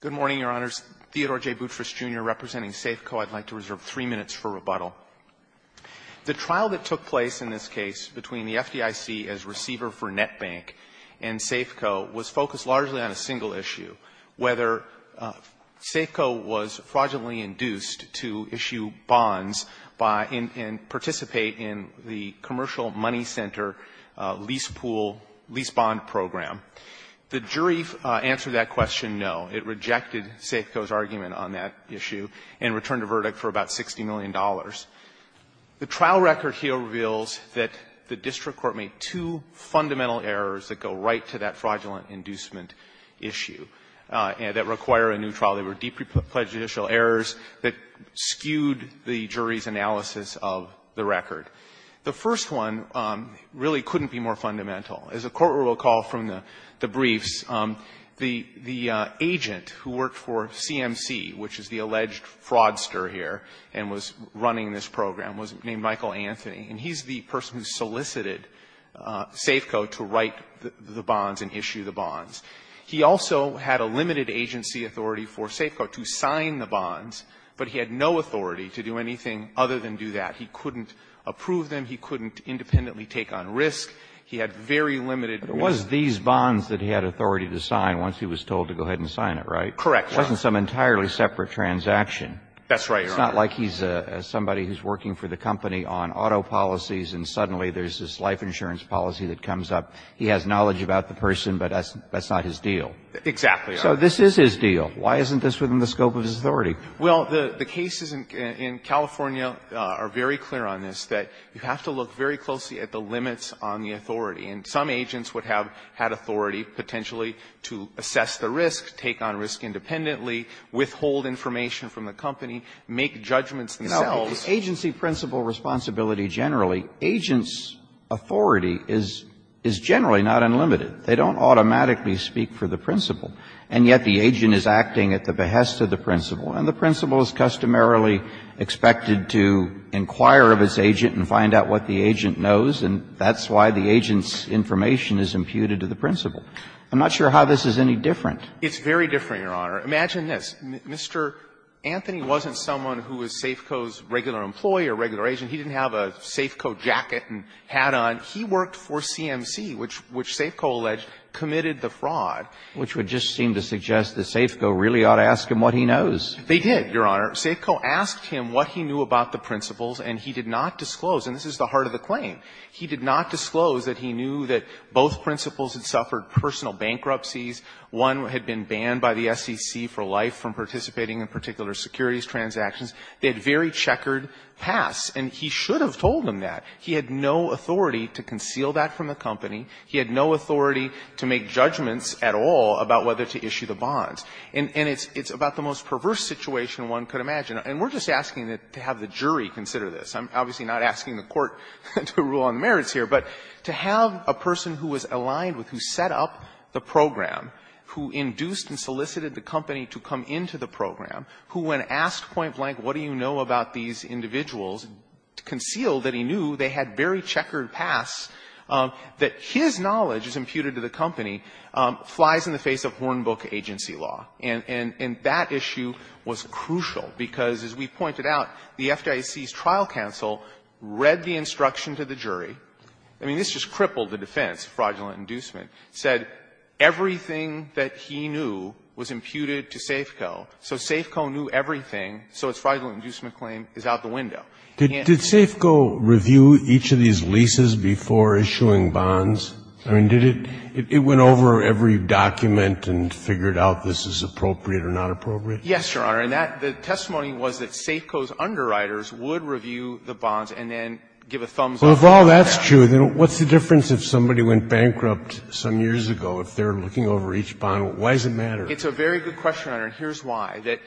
Good morning, Your Honors. Theodore J. Boutrous, Jr., representing Safeco. I'd like to reserve three minutes for rebuttal. The trial that took place in this case between the FDIC as receiver for NetBank and Safeco was focused largely on a single issue, whether Safeco was fraudulently induced to issue bonds by and participate in the Commercial Money Center lease pool, lease bond program. The jury answered that question, no. It rejected Safeco's argument on that issue and returned a verdict for about $60 million. The trial record here reveals that the district court made two fundamental errors that go right to that fraudulent inducement issue that require a new trial. They were deeply prejudicial errors that skewed the jury's analysis of the record. The first one really couldn't be more fundamental. As the Court will recall from the briefs, the agent who worked for CMC, which is the alleged fraudster here and was running this program, was named Michael Anthony. And he's the person who solicited Safeco to write the bonds and issue the bonds. He also had a limited agency authority for Safeco to sign the bonds, but he had no authority to do anything other than do that. He couldn't approve them. He couldn't independently take on risk. He had very limited authority. Kennedy, but it was these bonds that he had authority to sign once he was told to go ahead and sign it, right? Correct. It wasn't some entirely separate transaction. That's right, Your Honor. It's not like he's somebody who's working for the company on auto policies and suddenly there's this life insurance policy that comes up. He has knowledge about the person, but that's not his deal. Exactly. So this is his deal. Why isn't this within the scope of his authority? Well, the cases in California are very clear on this, that you have to look very closely at the limits on the authority, and some agents would have had authority potentially to assess the risk, take on risk independently, withhold information from the company, make judgments themselves. No, because agency principle responsibility generally, agents' authority is generally not unlimited. They don't automatically speak for the principle, and yet the agent is acting at the behest of the principle, and the principle is customarily expected to inquire of its agent knows, and that's why the agent's information is imputed to the principle. I'm not sure how this is any different. It's very different, Your Honor. Imagine this. Mr. Anthony wasn't someone who was Safeco's regular employee or regular agent. He didn't have a Safeco jacket and hat on. He worked for CMC, which Safeco alleged committed the fraud. Which would just seem to suggest that Safeco really ought to ask him what he knows. They did, Your Honor. Safeco asked him what he knew about the principles, and he did not disclose. And this is the heart of the claim. He did not disclose that he knew that both principles had suffered personal bankruptcies. One had been banned by the SEC for life from participating in particular securities transactions. They had very checkered pass, and he should have told them that. He had no authority to conceal that from the company. He had no authority to make judgments at all about whether to issue the bonds. And it's about the most perverse situation one could imagine. And we're just asking to have the jury consider this. I'm obviously not asking the Court to rule on the merits here. But to have a person who was aligned with, who set up the program, who induced and solicited the company to come into the program, who, when asked point blank, what do you know about these individuals, concealed that he knew they had very checkered pass, that his knowledge is imputed to the company, flies in the face of Hornbook agency law. And that issue was crucial, because, as we pointed out, the FDIC's trial counsel read the instruction to the jury. I mean, this just crippled the defense, fraudulent inducement. It said everything that he knew was imputed to Safeco. So Safeco knew everything, so its fraudulent inducement claim is out the window. And he answered it. Scalia, did Safeco review each of these leases before issuing bonds? I mean, did it go over every document and figure out this is appropriate or not appropriate? Yes, Your Honor. And that the testimony was that Safeco's underwriters would review the bonds and then give a thumbs-up. Well, if all that's true, then what's the difference if somebody went bankrupt some years ago if they're looking over each bond? Why does it matter? It's a very good question, Your Honor, and here's why. That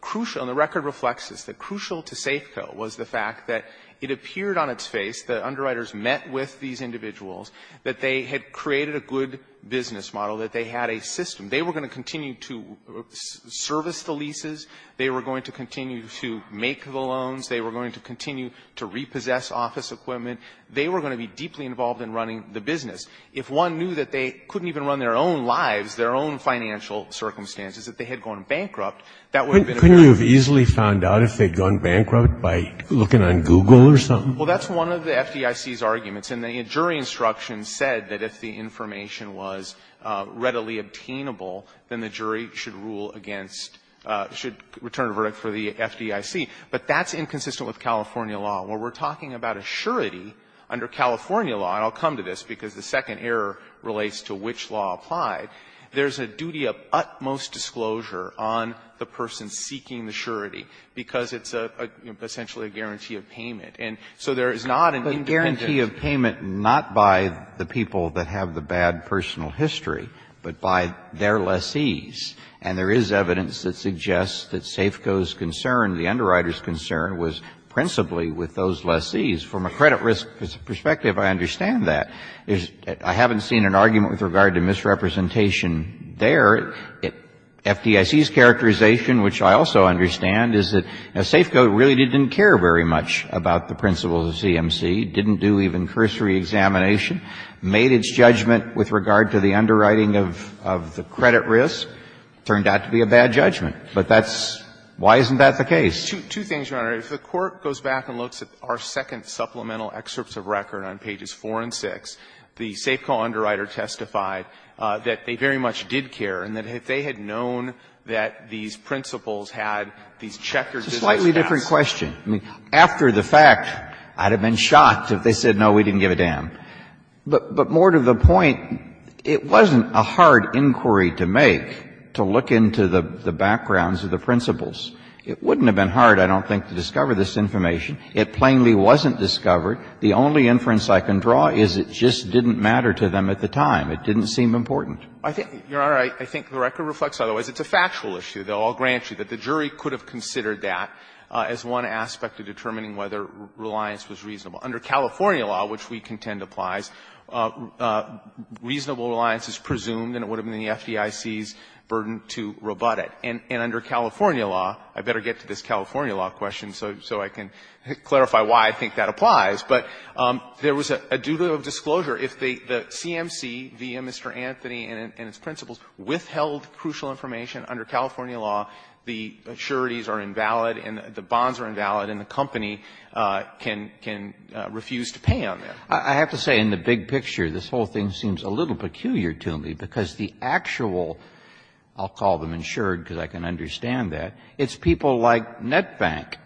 crucial, and the record reflects this, that crucial to Safeco was the fact that it appeared on its face that underwriters met with these individuals, that they had created a good business model, that they had a system. They were going to continue to service the leases. They were going to continue to make the loans. They were going to continue to repossess office equipment. They were going to be deeply involved in running the business. If one knew that they couldn't even run their own lives, their own financial circumstances, that they had gone bankrupt, that would have been a real problem. Couldn't you have easily found out if they'd gone bankrupt by looking on Google or something? Well, that's one of the FDIC's arguments. And the jury instruction said that if the information was readily obtainable, then the jury should rule against or should return a verdict for the FDIC. But that's inconsistent with California law. When we're talking about a surety under California law, and I'll come to this because the second error relates to which law applied, there's a duty of utmost disclosure on the person seeking the surety because it's essentially a guarantee of payment. And so there is not an independent guarantee of payment not by the people that have the bad personal history, but by their lessees. And there is evidence that suggests that SAFCO's concern, the underwriter's concern, was principally with those lessees. From a credit risk perspective, I understand that. I haven't seen an argument with regard to misrepresentation there. FDIC's characterization, which I also understand, is that SAFCO really didn't care very much about the principles of CMC, didn't do even cursory examination, made its judgment with regard to the underwriting of the credit risk. It turned out to be a bad judgment. But that's why isn't that the case? Two things, Your Honor. If the Court goes back and looks at our second supplemental excerpts of record on pages 4 and 6, the SAFCO underwriter testified that they very much did care and that if they had known that these principles had these checkered business caps. It's a slightly different question. I mean, after the fact, I'd have been shocked if they said, no, we didn't give a damn. But more to the point, it wasn't a hard inquiry to make to look into the backgrounds of the principles. It wouldn't have been hard, I don't think, to discover this information. It plainly wasn't discovered. The only inference I can draw is it just didn't matter to them at the time. It didn't seem important. I think, Your Honor, I think the record reflects otherwise. It's a factual issue, though, I'll grant you, that the jury could have considered that as one aspect of determining whether reliance was reasonable. Under California law, which we contend applies, reasonable reliance is presumed and it would have been the FDIC's burden to rebut it. And under California law, I better get to this California law question so I can clarify why I think that applies, but there was a dual disclosure. If the CMC, via Mr. Anthony and its principles, withheld crucial information, under California law, the sureties are invalid and the bonds are invalid and the company can refuse to pay on that. I have to say in the big picture, this whole thing seems a little peculiar to me, because the actual, I'll call them insured because I can understand that, it's people like NetBank.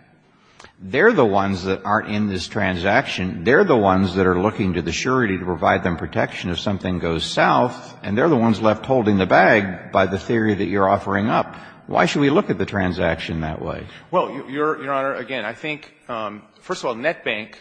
They're the ones that aren't in this transaction. They're the ones that are looking to the surety to provide them protection if something goes south, and they're the ones left holding the bag by the theory that you're offering up. Why should we look at the transaction that way? Well, Your Honor, again, I think, first of all, NetBank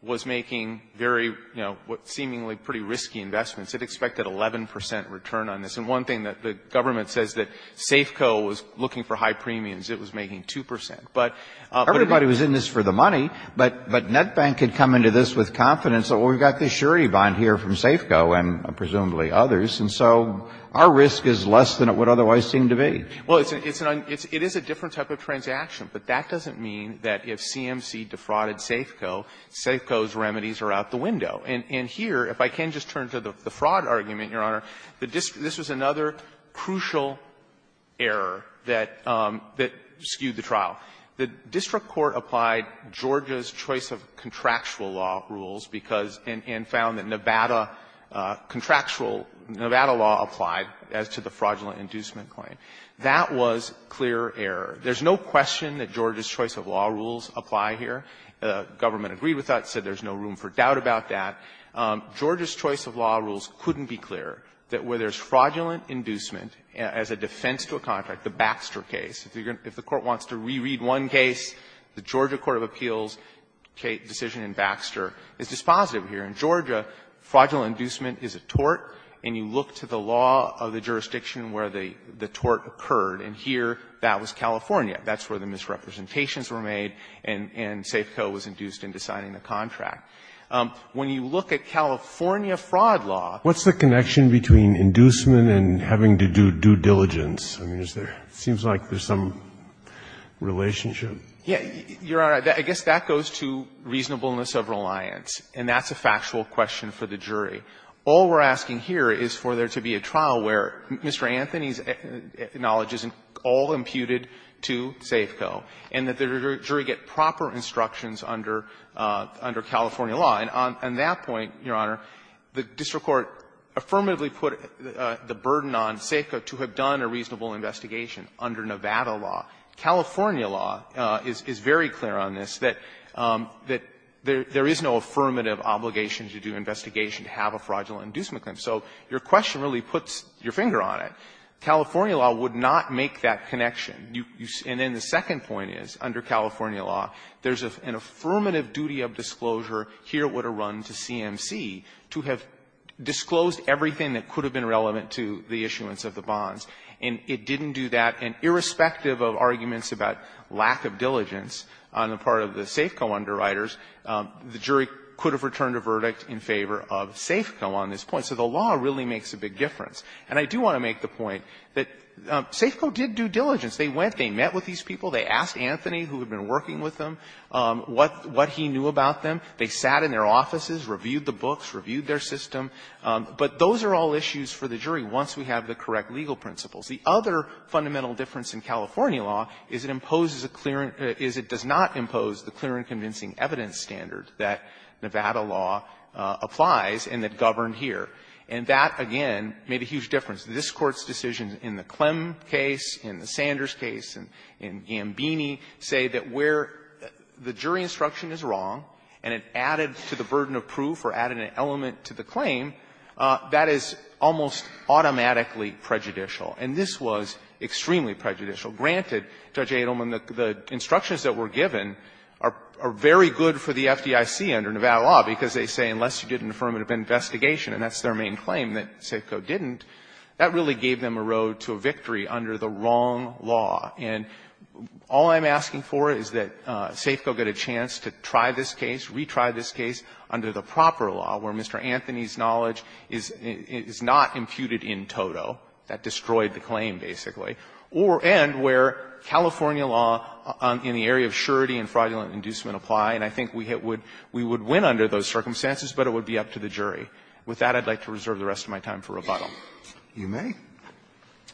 was making very, you know, seemingly pretty risky investments. It expected 11 percent return on this. And one thing that the government says that Safeco was looking for high premiums. It was making 2 percent. But everybody was in this for the money, but NetBank had come into this with confidence that, well, we've got this surety bond here from Safeco and presumably others, and so our risk is less than it would otherwise seem to be. Well, it's an un – it is a different type of transaction, but that doesn't mean that if CMC defrauded Safeco, Safeco's remedies are out the window. And here, if I can just turn to the fraud argument, Your Honor, the district – this was another crucial error that skewed the trial. The district court applied Georgia's choice of contractual law rules because – and Nevada law applied as to the fraudulent inducement claim. That was clear error. There's no question that Georgia's choice of law rules apply here. The government agreed with that, said there's no room for doubt about that. Georgia's choice of law rules couldn't be clearer, that where there's fraudulent inducement as a defense to a contract, the Baxter case, if you're going to – if the Court wants to reread one case, the Georgia court of appeals decision in Baxter is dispositive here. In Georgia, fraudulent inducement is a tort, and you look to the law of the jurisdiction where the tort occurred, and here, that was California. That's where the misrepresentations were made, and Safeco was induced into signing the contract. When you look at California fraud law… Kennedy, what's the connection between inducement and having to do due diligence? I mean, is there – it seems like there's some relationship. Yeah. Your Honor, I guess that goes to reasonableness of reliance, and that's a factual question for the jury. All we're asking here is for there to be a trial where Mr. Anthony's knowledge isn't all imputed to Safeco, and that the jury get proper instructions under – under California law. And on that point, Your Honor, the district court affirmatively put the burden on Safeco to have done a reasonable investigation under Nevada law. California law is very clear on this, that there is no affirmative obligation to do an investigation to have a fraudulent inducement claim. So your question really puts your finger on it. California law would not make that connection. And then the second point is, under California law, there's an affirmative duty of disclosure here would have run to CMC to have disclosed everything that could have been relevant to the issuance of the bonds. And it didn't do that. And irrespective of arguments about lack of diligence on the part of the Safeco underwriters, the jury could have returned a verdict in favor of Safeco on this point. So the law really makes a big difference. And I do want to make the point that Safeco did due diligence. They went, they met with these people, they asked Anthony, who had been working with them, what he knew about them. They sat in their offices, reviewed the books, reviewed their system. But those are all issues for the jury once we have the correct legal principles. The other fundamental difference in California law is it imposes a clear – is it does not impose the clear and convincing evidence standard that Nevada law applies and that governed here. And that, again, made a huge difference. This Court's decisions in the Clem case, in the Sanders case, and in Gambini say that where the jury instruction is wrong and it added to the burden of proof or added an element to the claim, that is almost automatically prejudicial. And this was extremely prejudicial. Granted, Judge Adelman, the instructions that were given are very good for the FDIC under Nevada law, because they say unless you did an affirmative investigation and that's their main claim that Safeco didn't, that really gave them a road to a victory under the wrong law. And all I'm asking for is that Safeco get a chance to try this case, retry this case under the proper law, where Mr. Anthony's knowledge is not imputed in toto. That destroyed the claim, basically. And where California law in the area of surety and fraudulent inducement apply, and I think we would win under those circumstances, but it would be up to the jury. With that, I'd like to reserve the rest of my time for rebuttal. Roberts. You may.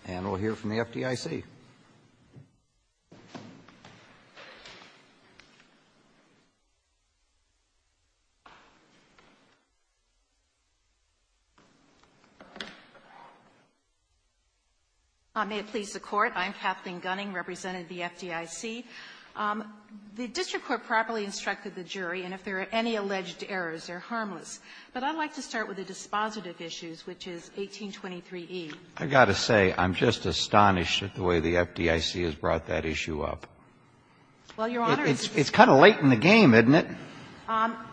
And we'll hear from the FDIC. Gunning, represented the FDIC. The district court properly instructed the jury, and if there are any alleged errors, they're harmless. But I'd like to start with the dispositive issues, which is 1823e. I've got to say, I'm just astonished at the way the FDIC has brought that issue up. Well, Your Honor, it's kind of late in the game, isn't it?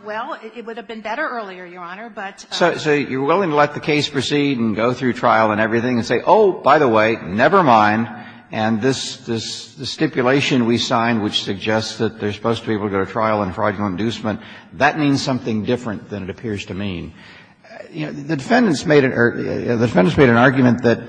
Well, it would have been better earlier, Your Honor, but. So you're willing to let the case proceed and go through trial and everything and say, oh, by the way, never mind, and this stipulation we signed, which suggests that they're supposed to be able to go to trial in fraudulent inducement, that means something different than it appears to mean. You know, the defendants made an argument that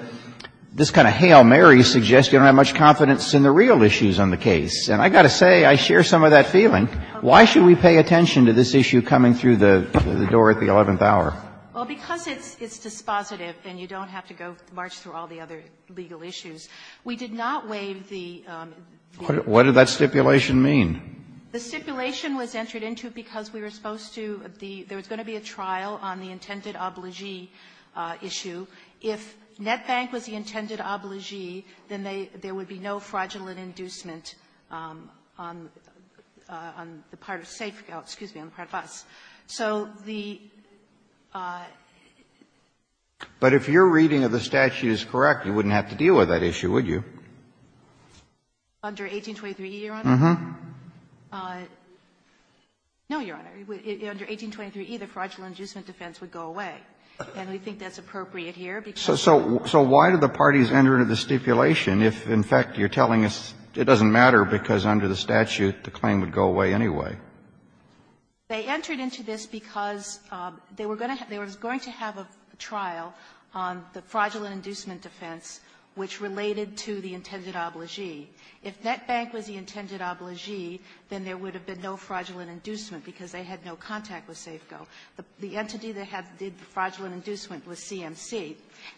this kind of Hail Mary suggests you don't have much confidence in the real issues on the case. And I've got to say, I share some of that feeling. Why should we pay attention to this issue coming through the door at the 11th hour? Well, because it's dispositive and you don't have to go march through all the other legal issues, we did not waive the. What did that stipulation mean? The stipulation was entered into because we were supposed to, there was going to be a trial on the intended obligee issue. If NetBank was the intended obligee, then there would be no fraudulent inducement on the part of SAFE, excuse me, on the part of us. So the ---- Kennedy, but if your reading of the statute is correct, you wouldn't have to deal with that issue, would you? Under 1823e, Your Honor? No, Your Honor. Under 1823e, the fraudulent inducement defense would go away. And we think that's appropriate here because ---- So why did the parties enter into the stipulation if, in fact, you're telling us it doesn't matter because under the statute the claim would go away anyway? They entered into this because they were going to have a trial on the fraudulent inducement defense which related to the intended obligee. If NetBank was the intended obligee, then there would have been no fraudulent inducement because they had no contact with SAFEco. The entity that did the fraudulent inducement was CMC.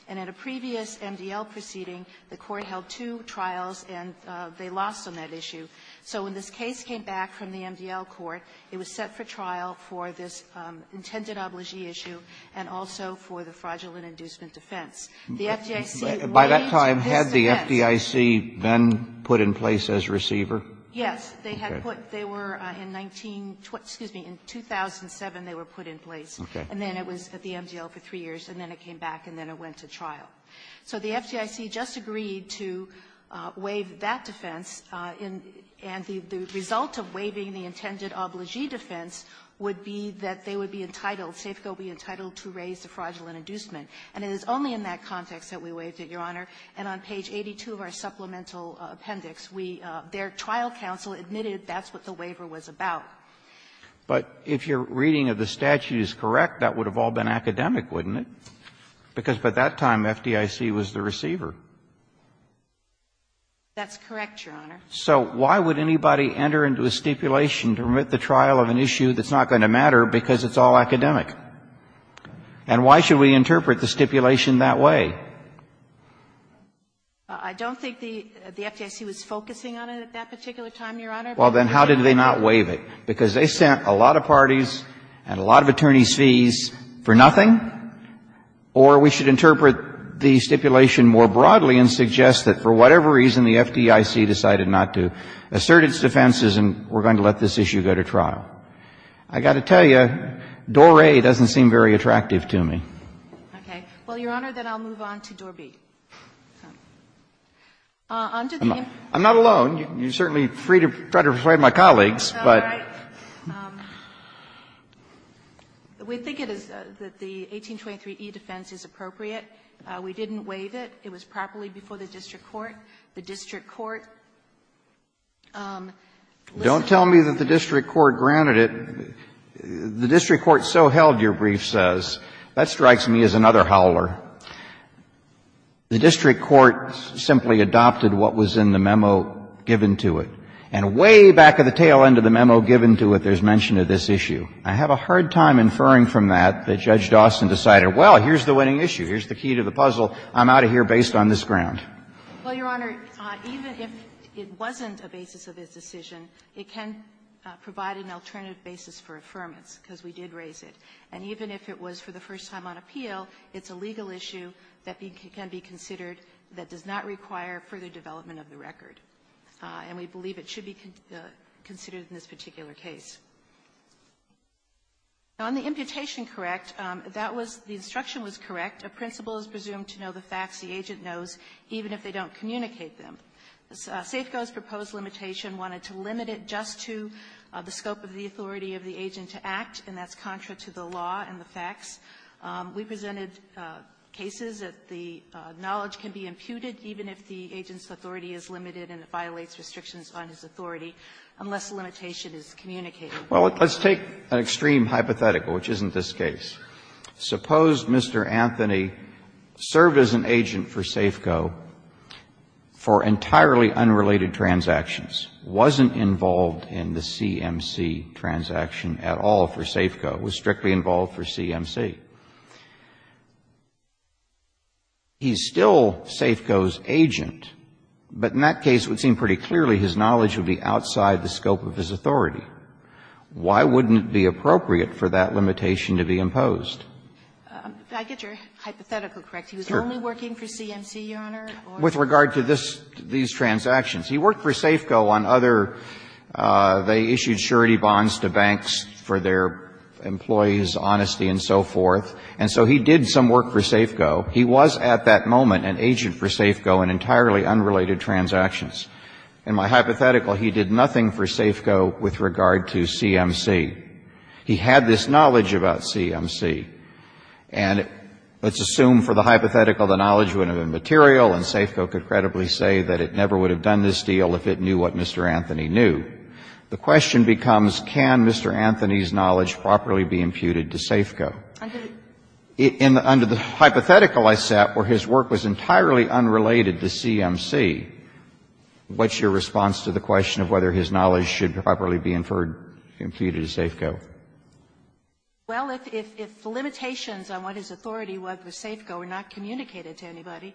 And at a previous MDL proceeding, the Court held two trials and they lost on that issue. So when this case came back from the MDL Court, it was set for trial for this intended obligee issue and also for the fraudulent inducement defense. The FDIC ---- By that time, had the FDIC been put in place as receiver? Yes. They had put they were in 19 ---- excuse me, in 2007, they were put in place. Okay. And then it was at the MDL for three years, and then it came back, and then it went to trial. So the FDIC just agreed to waive that defense in ---- and the result of waiving the intended obligee defense would be that they would be entitled, SAFEco would be entitled to raise the fraudulent inducement. And it is only in that context that we waived it, Your Honor. And on page 82 of our supplemental appendix, we ---- their trial counsel admitted that's what the waiver was about. But if your reading of the statute is correct, that would have all been academic, wouldn't it? Because by that time, FDIC was the receiver. That's correct, Your Honor. So why would anybody enter into a stipulation to remit the trial of an issue that's not going to matter because it's all academic? And why should we interpret the stipulation that way? I don't think the FDIC was focusing on it at that particular time, Your Honor. Well, then how did they not waive it? Because they sent a lot of parties and a lot of attorneys' fees for nothing? Or we should interpret the stipulation more broadly and suggest that for whatever reason the FDIC decided not to assert its defenses and we're going to let this issue go to trial. I've got to tell you, Doré doesn't seem very attractive to me. Okay. Well, Your Honor, then I'll move on to Doré B. FDIC did not grant it. I'm not alone. You certainly tried to persuade my colleagues, but we think it is that the 1823E defense is appropriate. We didn't waive it. It was properly before the district court. The district court, listen to me. Don't tell me that the district court granted it. The district court so held your brief, says, that strikes me as another howler. The district court simply adopted what was in the memo given to it. And way back at the tail end of the memo given to it, there's mention of this issue. I have a hard time inferring from that that Judge Dawson decided, well, here's the winning issue, here's the key to the puzzle, I'm out of here based on this ground. Well, Your Honor, even if it wasn't a basis of his decision, it can provide an alternative basis for affirmance, because we did raise it. And even if it was for the first time on appeal, it's a legal issue that can be considered that does not require further development of the record. And we believe it should be considered in this particular case. On the imputation correct, that was the instruction was correct. A principal is presumed to know the facts the agent knows, even if they don't communicate them. SAFCO's proposed limitation wanted to limit it just to the scope of the authority of the agent to act, and that's contra to the law and the facts. We presented cases that the knowledge can be imputed even if the agent's authority is limited and it violates restrictions on his authority, unless the limitation is communicated. Well, let's take an extreme hypothetical, which isn't this case. Suppose Mr. Anthony served as an agent for SAFCO for entirely unrelated transactions, wasn't involved in the CMC transaction at all for SAFCO, was strictly involved for CMC. He's still SAFCO's agent, but in that case it would seem pretty clearly his knowledge would be outside the scope of his authority. Why wouldn't it be appropriate for that limitation to be imposed? I get your hypothetical correct. He was only working for CMC, Your Honor? With regard to this, these transactions. He worked for SAFCO on other, they issued surety bonds to banks for their employees' honesty and so forth. And so he did some work for SAFCO. He was at that moment an agent for SAFCO in entirely unrelated transactions. In my hypothetical, he did nothing for SAFCO with regard to CMC. He had this knowledge about CMC. And let's assume for the hypothetical the knowledge would have been material and SAFCO could credibly say that it never would have done this deal if it knew what Mr. Anthony knew. The question becomes, can Mr. Anthony's knowledge properly be imputed to SAFCO? Under the hypothetical I set where his work was entirely unrelated to CMC, the question is, what's your response to the question of whether his knowledge should properly be inferred, imputed to SAFCO? Well, if the limitations on what his authority was with SAFCO were not communicated to anybody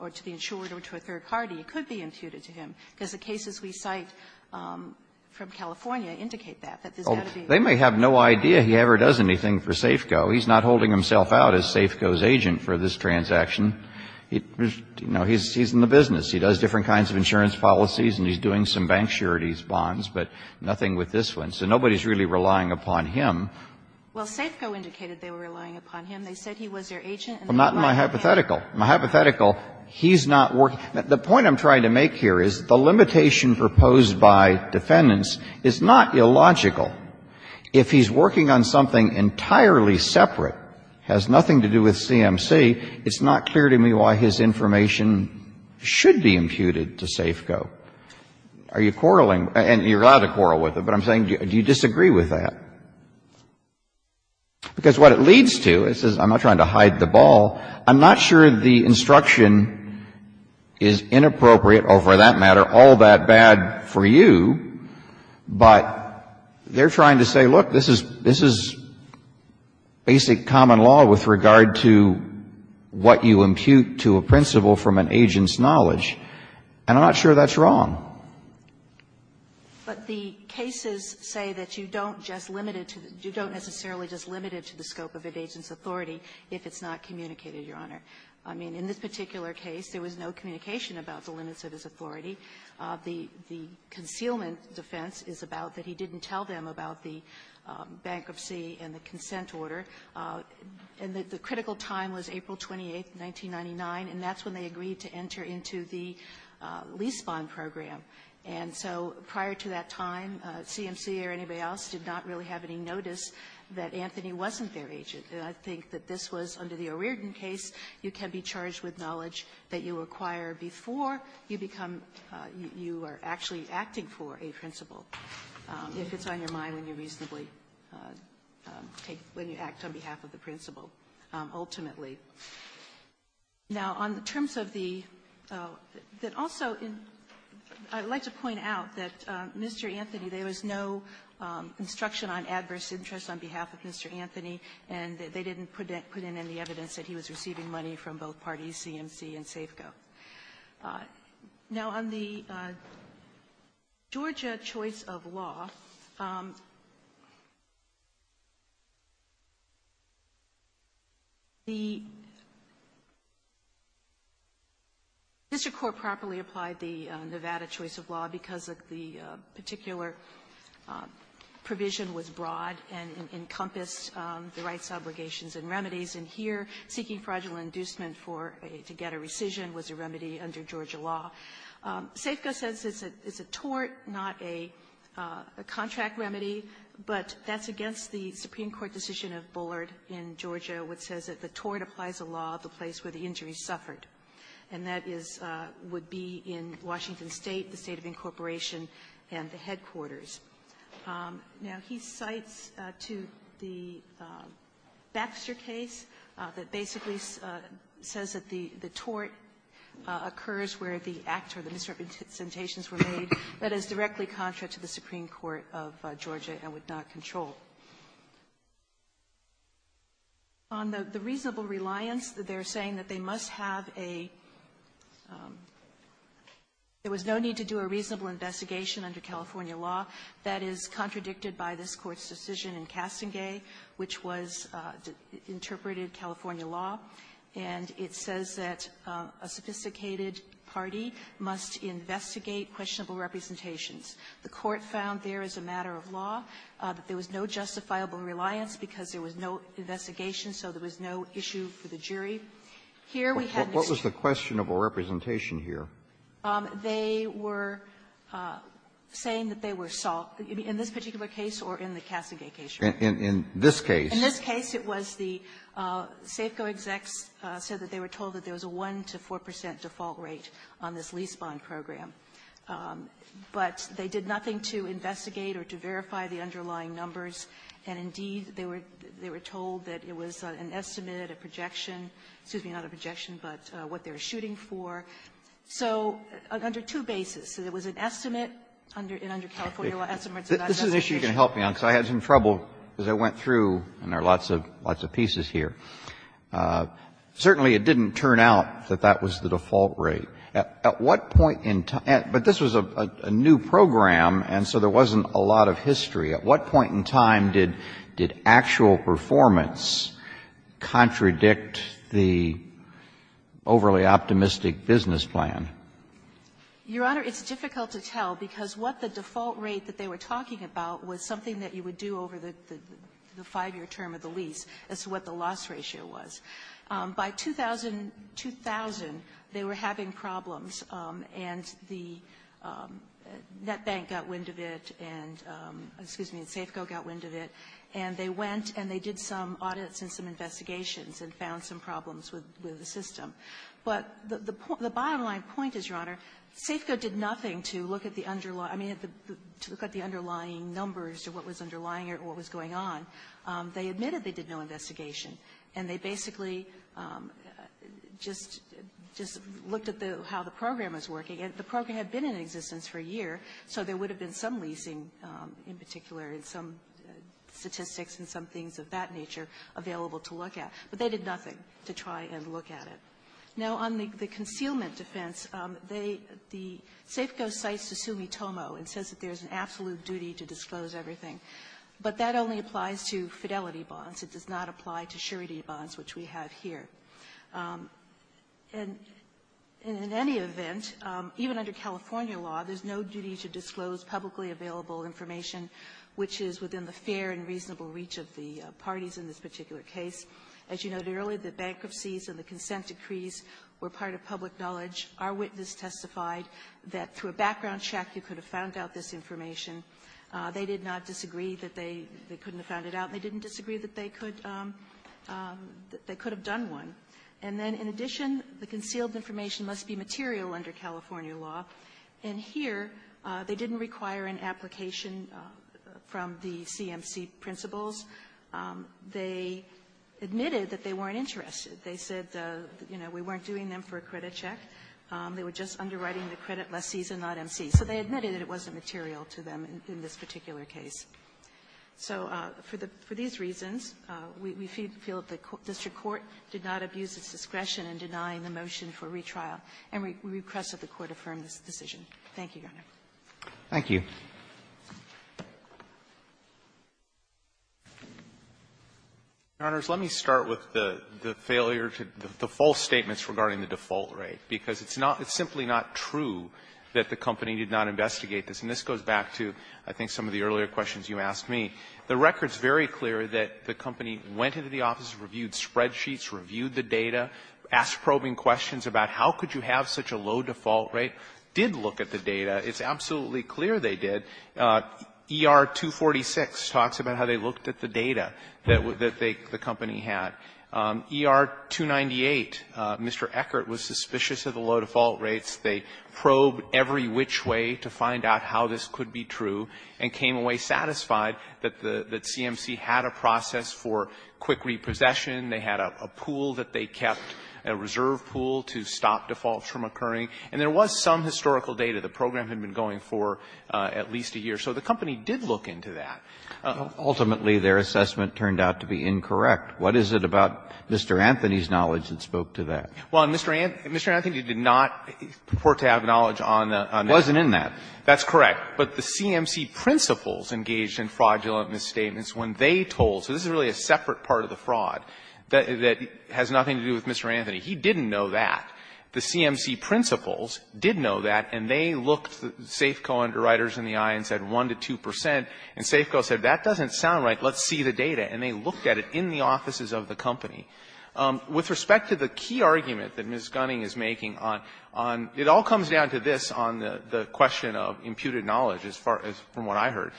or to the insurer or to a third party, it could be imputed to him. Because the cases we cite from California indicate that. That there's got to be a limit. They may have no idea he ever does anything for SAFCO. He's not holding himself out as SAFCO's agent for this transaction. You know, he's in the business. He does different kinds of insurance policies and he's doing some bank charities bonds, but nothing with this one. So nobody's really relying upon him. Well, SAFCO indicated they were relying upon him. They said he was their agent and they relied on him. Well, not in my hypothetical. In my hypothetical, he's not working. The point I'm trying to make here is the limitation proposed by defendants is not illogical. If he's working on something entirely separate, has nothing to do with CMC, it's not clear to me why his information should be imputed to SAFCO. Are you quarreling? And you're allowed to quarrel with him, but I'm saying do you disagree with that? Because what it leads to, it says I'm not trying to hide the ball. I'm not sure the instruction is inappropriate or, for that matter, all that bad for you, but they're trying to say, look, this is basic common law with regard to what you impute to a principal from an agent's knowledge, and I'm not sure that's wrong. But the cases say that you don't just limit it to the – you don't necessarily just limit it to the scope of an agent's authority if it's not communicated, Your Honor. I mean, in this particular case, there was no communication about the limits of his authority. The – the concealment defense is about that he didn't tell them about the bankruptcy and the consent order. And the critical time was April 28th, 1999, and that's when they agreed to enter into the lease bond program. And so prior to that time, CMC or anybody else did not really have any notice that Anthony wasn't their agent. And I think that this was under the O'Riordan case, you can be charged with knowledge that you acquire before you become – you are actually acting for a principal, if it's on your mind and you reasonably take – when you act on behalf of the principal, ultimately. Now, on the terms of the – that also in – I'd like to point out that Mr. Anthony, there was no instruction on adverse interest on behalf of Mr. Anthony, and they didn't put in any evidence that he was receiving money from both parties, CMC and O'Riordan. They didn't say, go. Now, on the Georgia choice of law, the – Mr. Corr properly applied the Nevada choice of law because of the particular provision was broad and encompassed the rights, obligations, and remedies. And here, seeking fraudulent inducement for a – to get a rescission was a remedy under Georgia law. SAFCO says it's a tort, not a contract remedy, but that's against the Supreme Court decision of Bullard in Georgia, which says that the tort applies a law at the place where the injury suffered, and that is – would be in Washington State, the State of Incorporation, and the headquarters. Now, he cites to the Baxter case that basically says that the – the tort occurs where the act or the misrepresentations were made, but is directly contra to the Supreme Court of Georgia and would not control. On the reasonable reliance, they're saying that they must have a – there was no need to do a reasonable investigation under California law that is contradicted by this Court's decision in Castengay, which was interpreted California law. And it says that a sophisticated party must investigate questionable representations. The Court found there as a matter of law that there was no justifiable reliance because there was no investigation, so there was no issue for the jury. Here, we had Mr. – Kennedy. Roberts. What was the question of a representation here? They were saying that they were – in this particular case or in the Castengay case? In this case. In this case, it was the SAFCO execs said that they were told that there was a 1 to 4 percent default rate on this lease bond program. But they did nothing to investigate or to verify the underlying numbers, and indeed, they were told that it was an estimate, a projection – excuse me, not a projection, but what they were shooting for. So under two bases, it was an estimate, and under California law, estimates are not an estimation. This is an issue you can help me on, because I had some trouble as I went through and there are lots of pieces here. Certainly, it didn't turn out that that was the default rate. At what point in time – but this was a new program, and so there wasn't a lot of history. At what point in time did actual performance contradict the overly optimistic business plan? Your Honor, it's difficult to tell, because what the default rate that they were talking about was something that you would do over the five-year term of the lease as to what the loss ratio was. By 2000, they were having problems, and the net bank got wind of it and, excuse me, SAFCO got wind of it, and they went and they did some audits and some investigations and found some problems with the system. But the bottom-line point is, Your Honor, SAFCO did nothing to look at the underlying numbers to what was underlying or what was going on. They admitted they did no investigation, and they basically just looked at how the program was working. And the program had been in existence for a year, so there would have been some leasing in particular and some statistics and some things of that nature available to look at. But they did nothing to try and look at it. Now, on the concealment defense, they the SAFCO cites Susumi Tomo and says that there's an absolute duty to disclose everything, but that only applies to Fidelity bonds. It does not apply to surety bonds, which we have here. And in any event, even under California law, there's no duty to disclose publicly available information which is within the fair and reasonable reach of the parties in this particular case. As you noted earlier, the bankruptcies and the consent decrees were part of public knowledge. Our witness testified that through a background check, you could have found out this information. They did not disagree that they couldn't have found it out. They didn't disagree that they could have done one. And then, in addition, the concealed information must be material under California law. And here, they didn't require an application from the CMC principals. They didn't admit it that they weren't interested. They said, you know, we weren't doing them for a credit check. They were just underwriting the credit lessee's and not MC's. So they admitted that it wasn't material to them in this particular case. So for the --- for these reasons, we feel that the district court did not abuse its discretion in denying the motion for retrial, and we request that the Court affirm this decision. Thank you, Your Honor. Roberts. Roberts. Thank you. Alito, let me start with the failure to the false statements regarding the default rate, because it's not – it's simply not true that the company did not investigate this. And this goes back to, I think, some of the earlier questions you asked me. The record is very clear that the company went into the office, reviewed spreadsheets, reviewed the data, asked probing questions about how could you have such a low default rate, did look at the data. It's absolutely clear they did. ER-246 talks about how they looked at the data that they – the company had. ER-298, Mr. Eckert was suspicious of the low default rates. They probed every which way to find out how this could be true and came away satisfied that the – that CMC had a process for quick repossession. They had a pool that they kept, a reserve pool, to stop defaults from occurring. And there was some historical data. The program had been going for at least a year. So the company did look into that. Ultimately, their assessment turned out to be incorrect. What is it about Mr. Anthony's knowledge that spoke to that? Well, Mr. Anthony did not report to have knowledge on that. It wasn't in that. That's correct. But the CMC principals engaged in fraudulent misstatements when they told – so this is really a separate part of the fraud that has nothing to do with Mr. Anthony. He didn't know that. The CMC principals did know that, and they looked Safeco underwriters in the eye and said 1 to 2 percent, and Safeco said, that doesn't sound right, let's see the data. And they looked at it in the offices of the company. With respect to the key argument that Ms. Gunning is making on – it all comes down to this on the question of imputed knowledge, as far as from what I heard.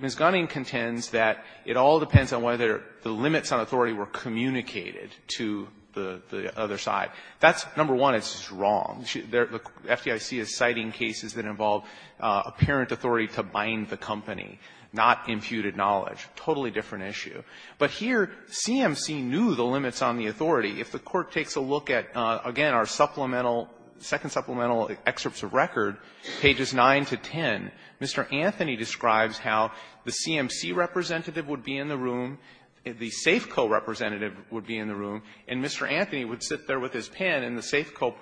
Ms. Gunning contends that it all depends on whether the limits on authority were communicated to the other side. That's, number one, it's wrong. The FDIC is citing cases that involve apparent authority to bind the company, not imputed knowledge, totally different issue. But here, CMC knew the limits on the authority. If the Court takes a look at, again, our supplemental – second supplemental excerpts of record, pages 9 to 10, Mr. Anthony describes how the CMC representative would be in the room, the Safeco representative would be in the room, and Mr. Anthony would sit there with his pen and the Safeco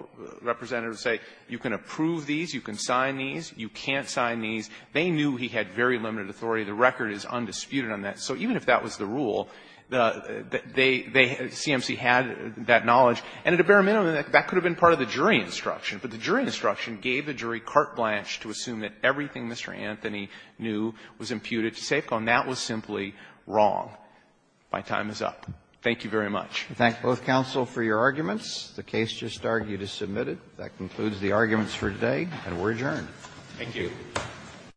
representative would say, you can approve these, you can sign these, you can't sign these. They knew he had very limited authority. The record is undisputed on that. So even if that was the rule, the – they – CMC had that knowledge, and at a bare minimum, that could have been part of the jury instruction, but the jury instruction gave the jury carte blanche to assume that everything Mr. Anthony knew was imputed to Safeco, and that was simply wrong. My time is up. Thank you very much. Roberts. Thank both counsel for your arguments. The case just argued is submitted. That concludes the arguments for today, and we're adjourned. Thank you.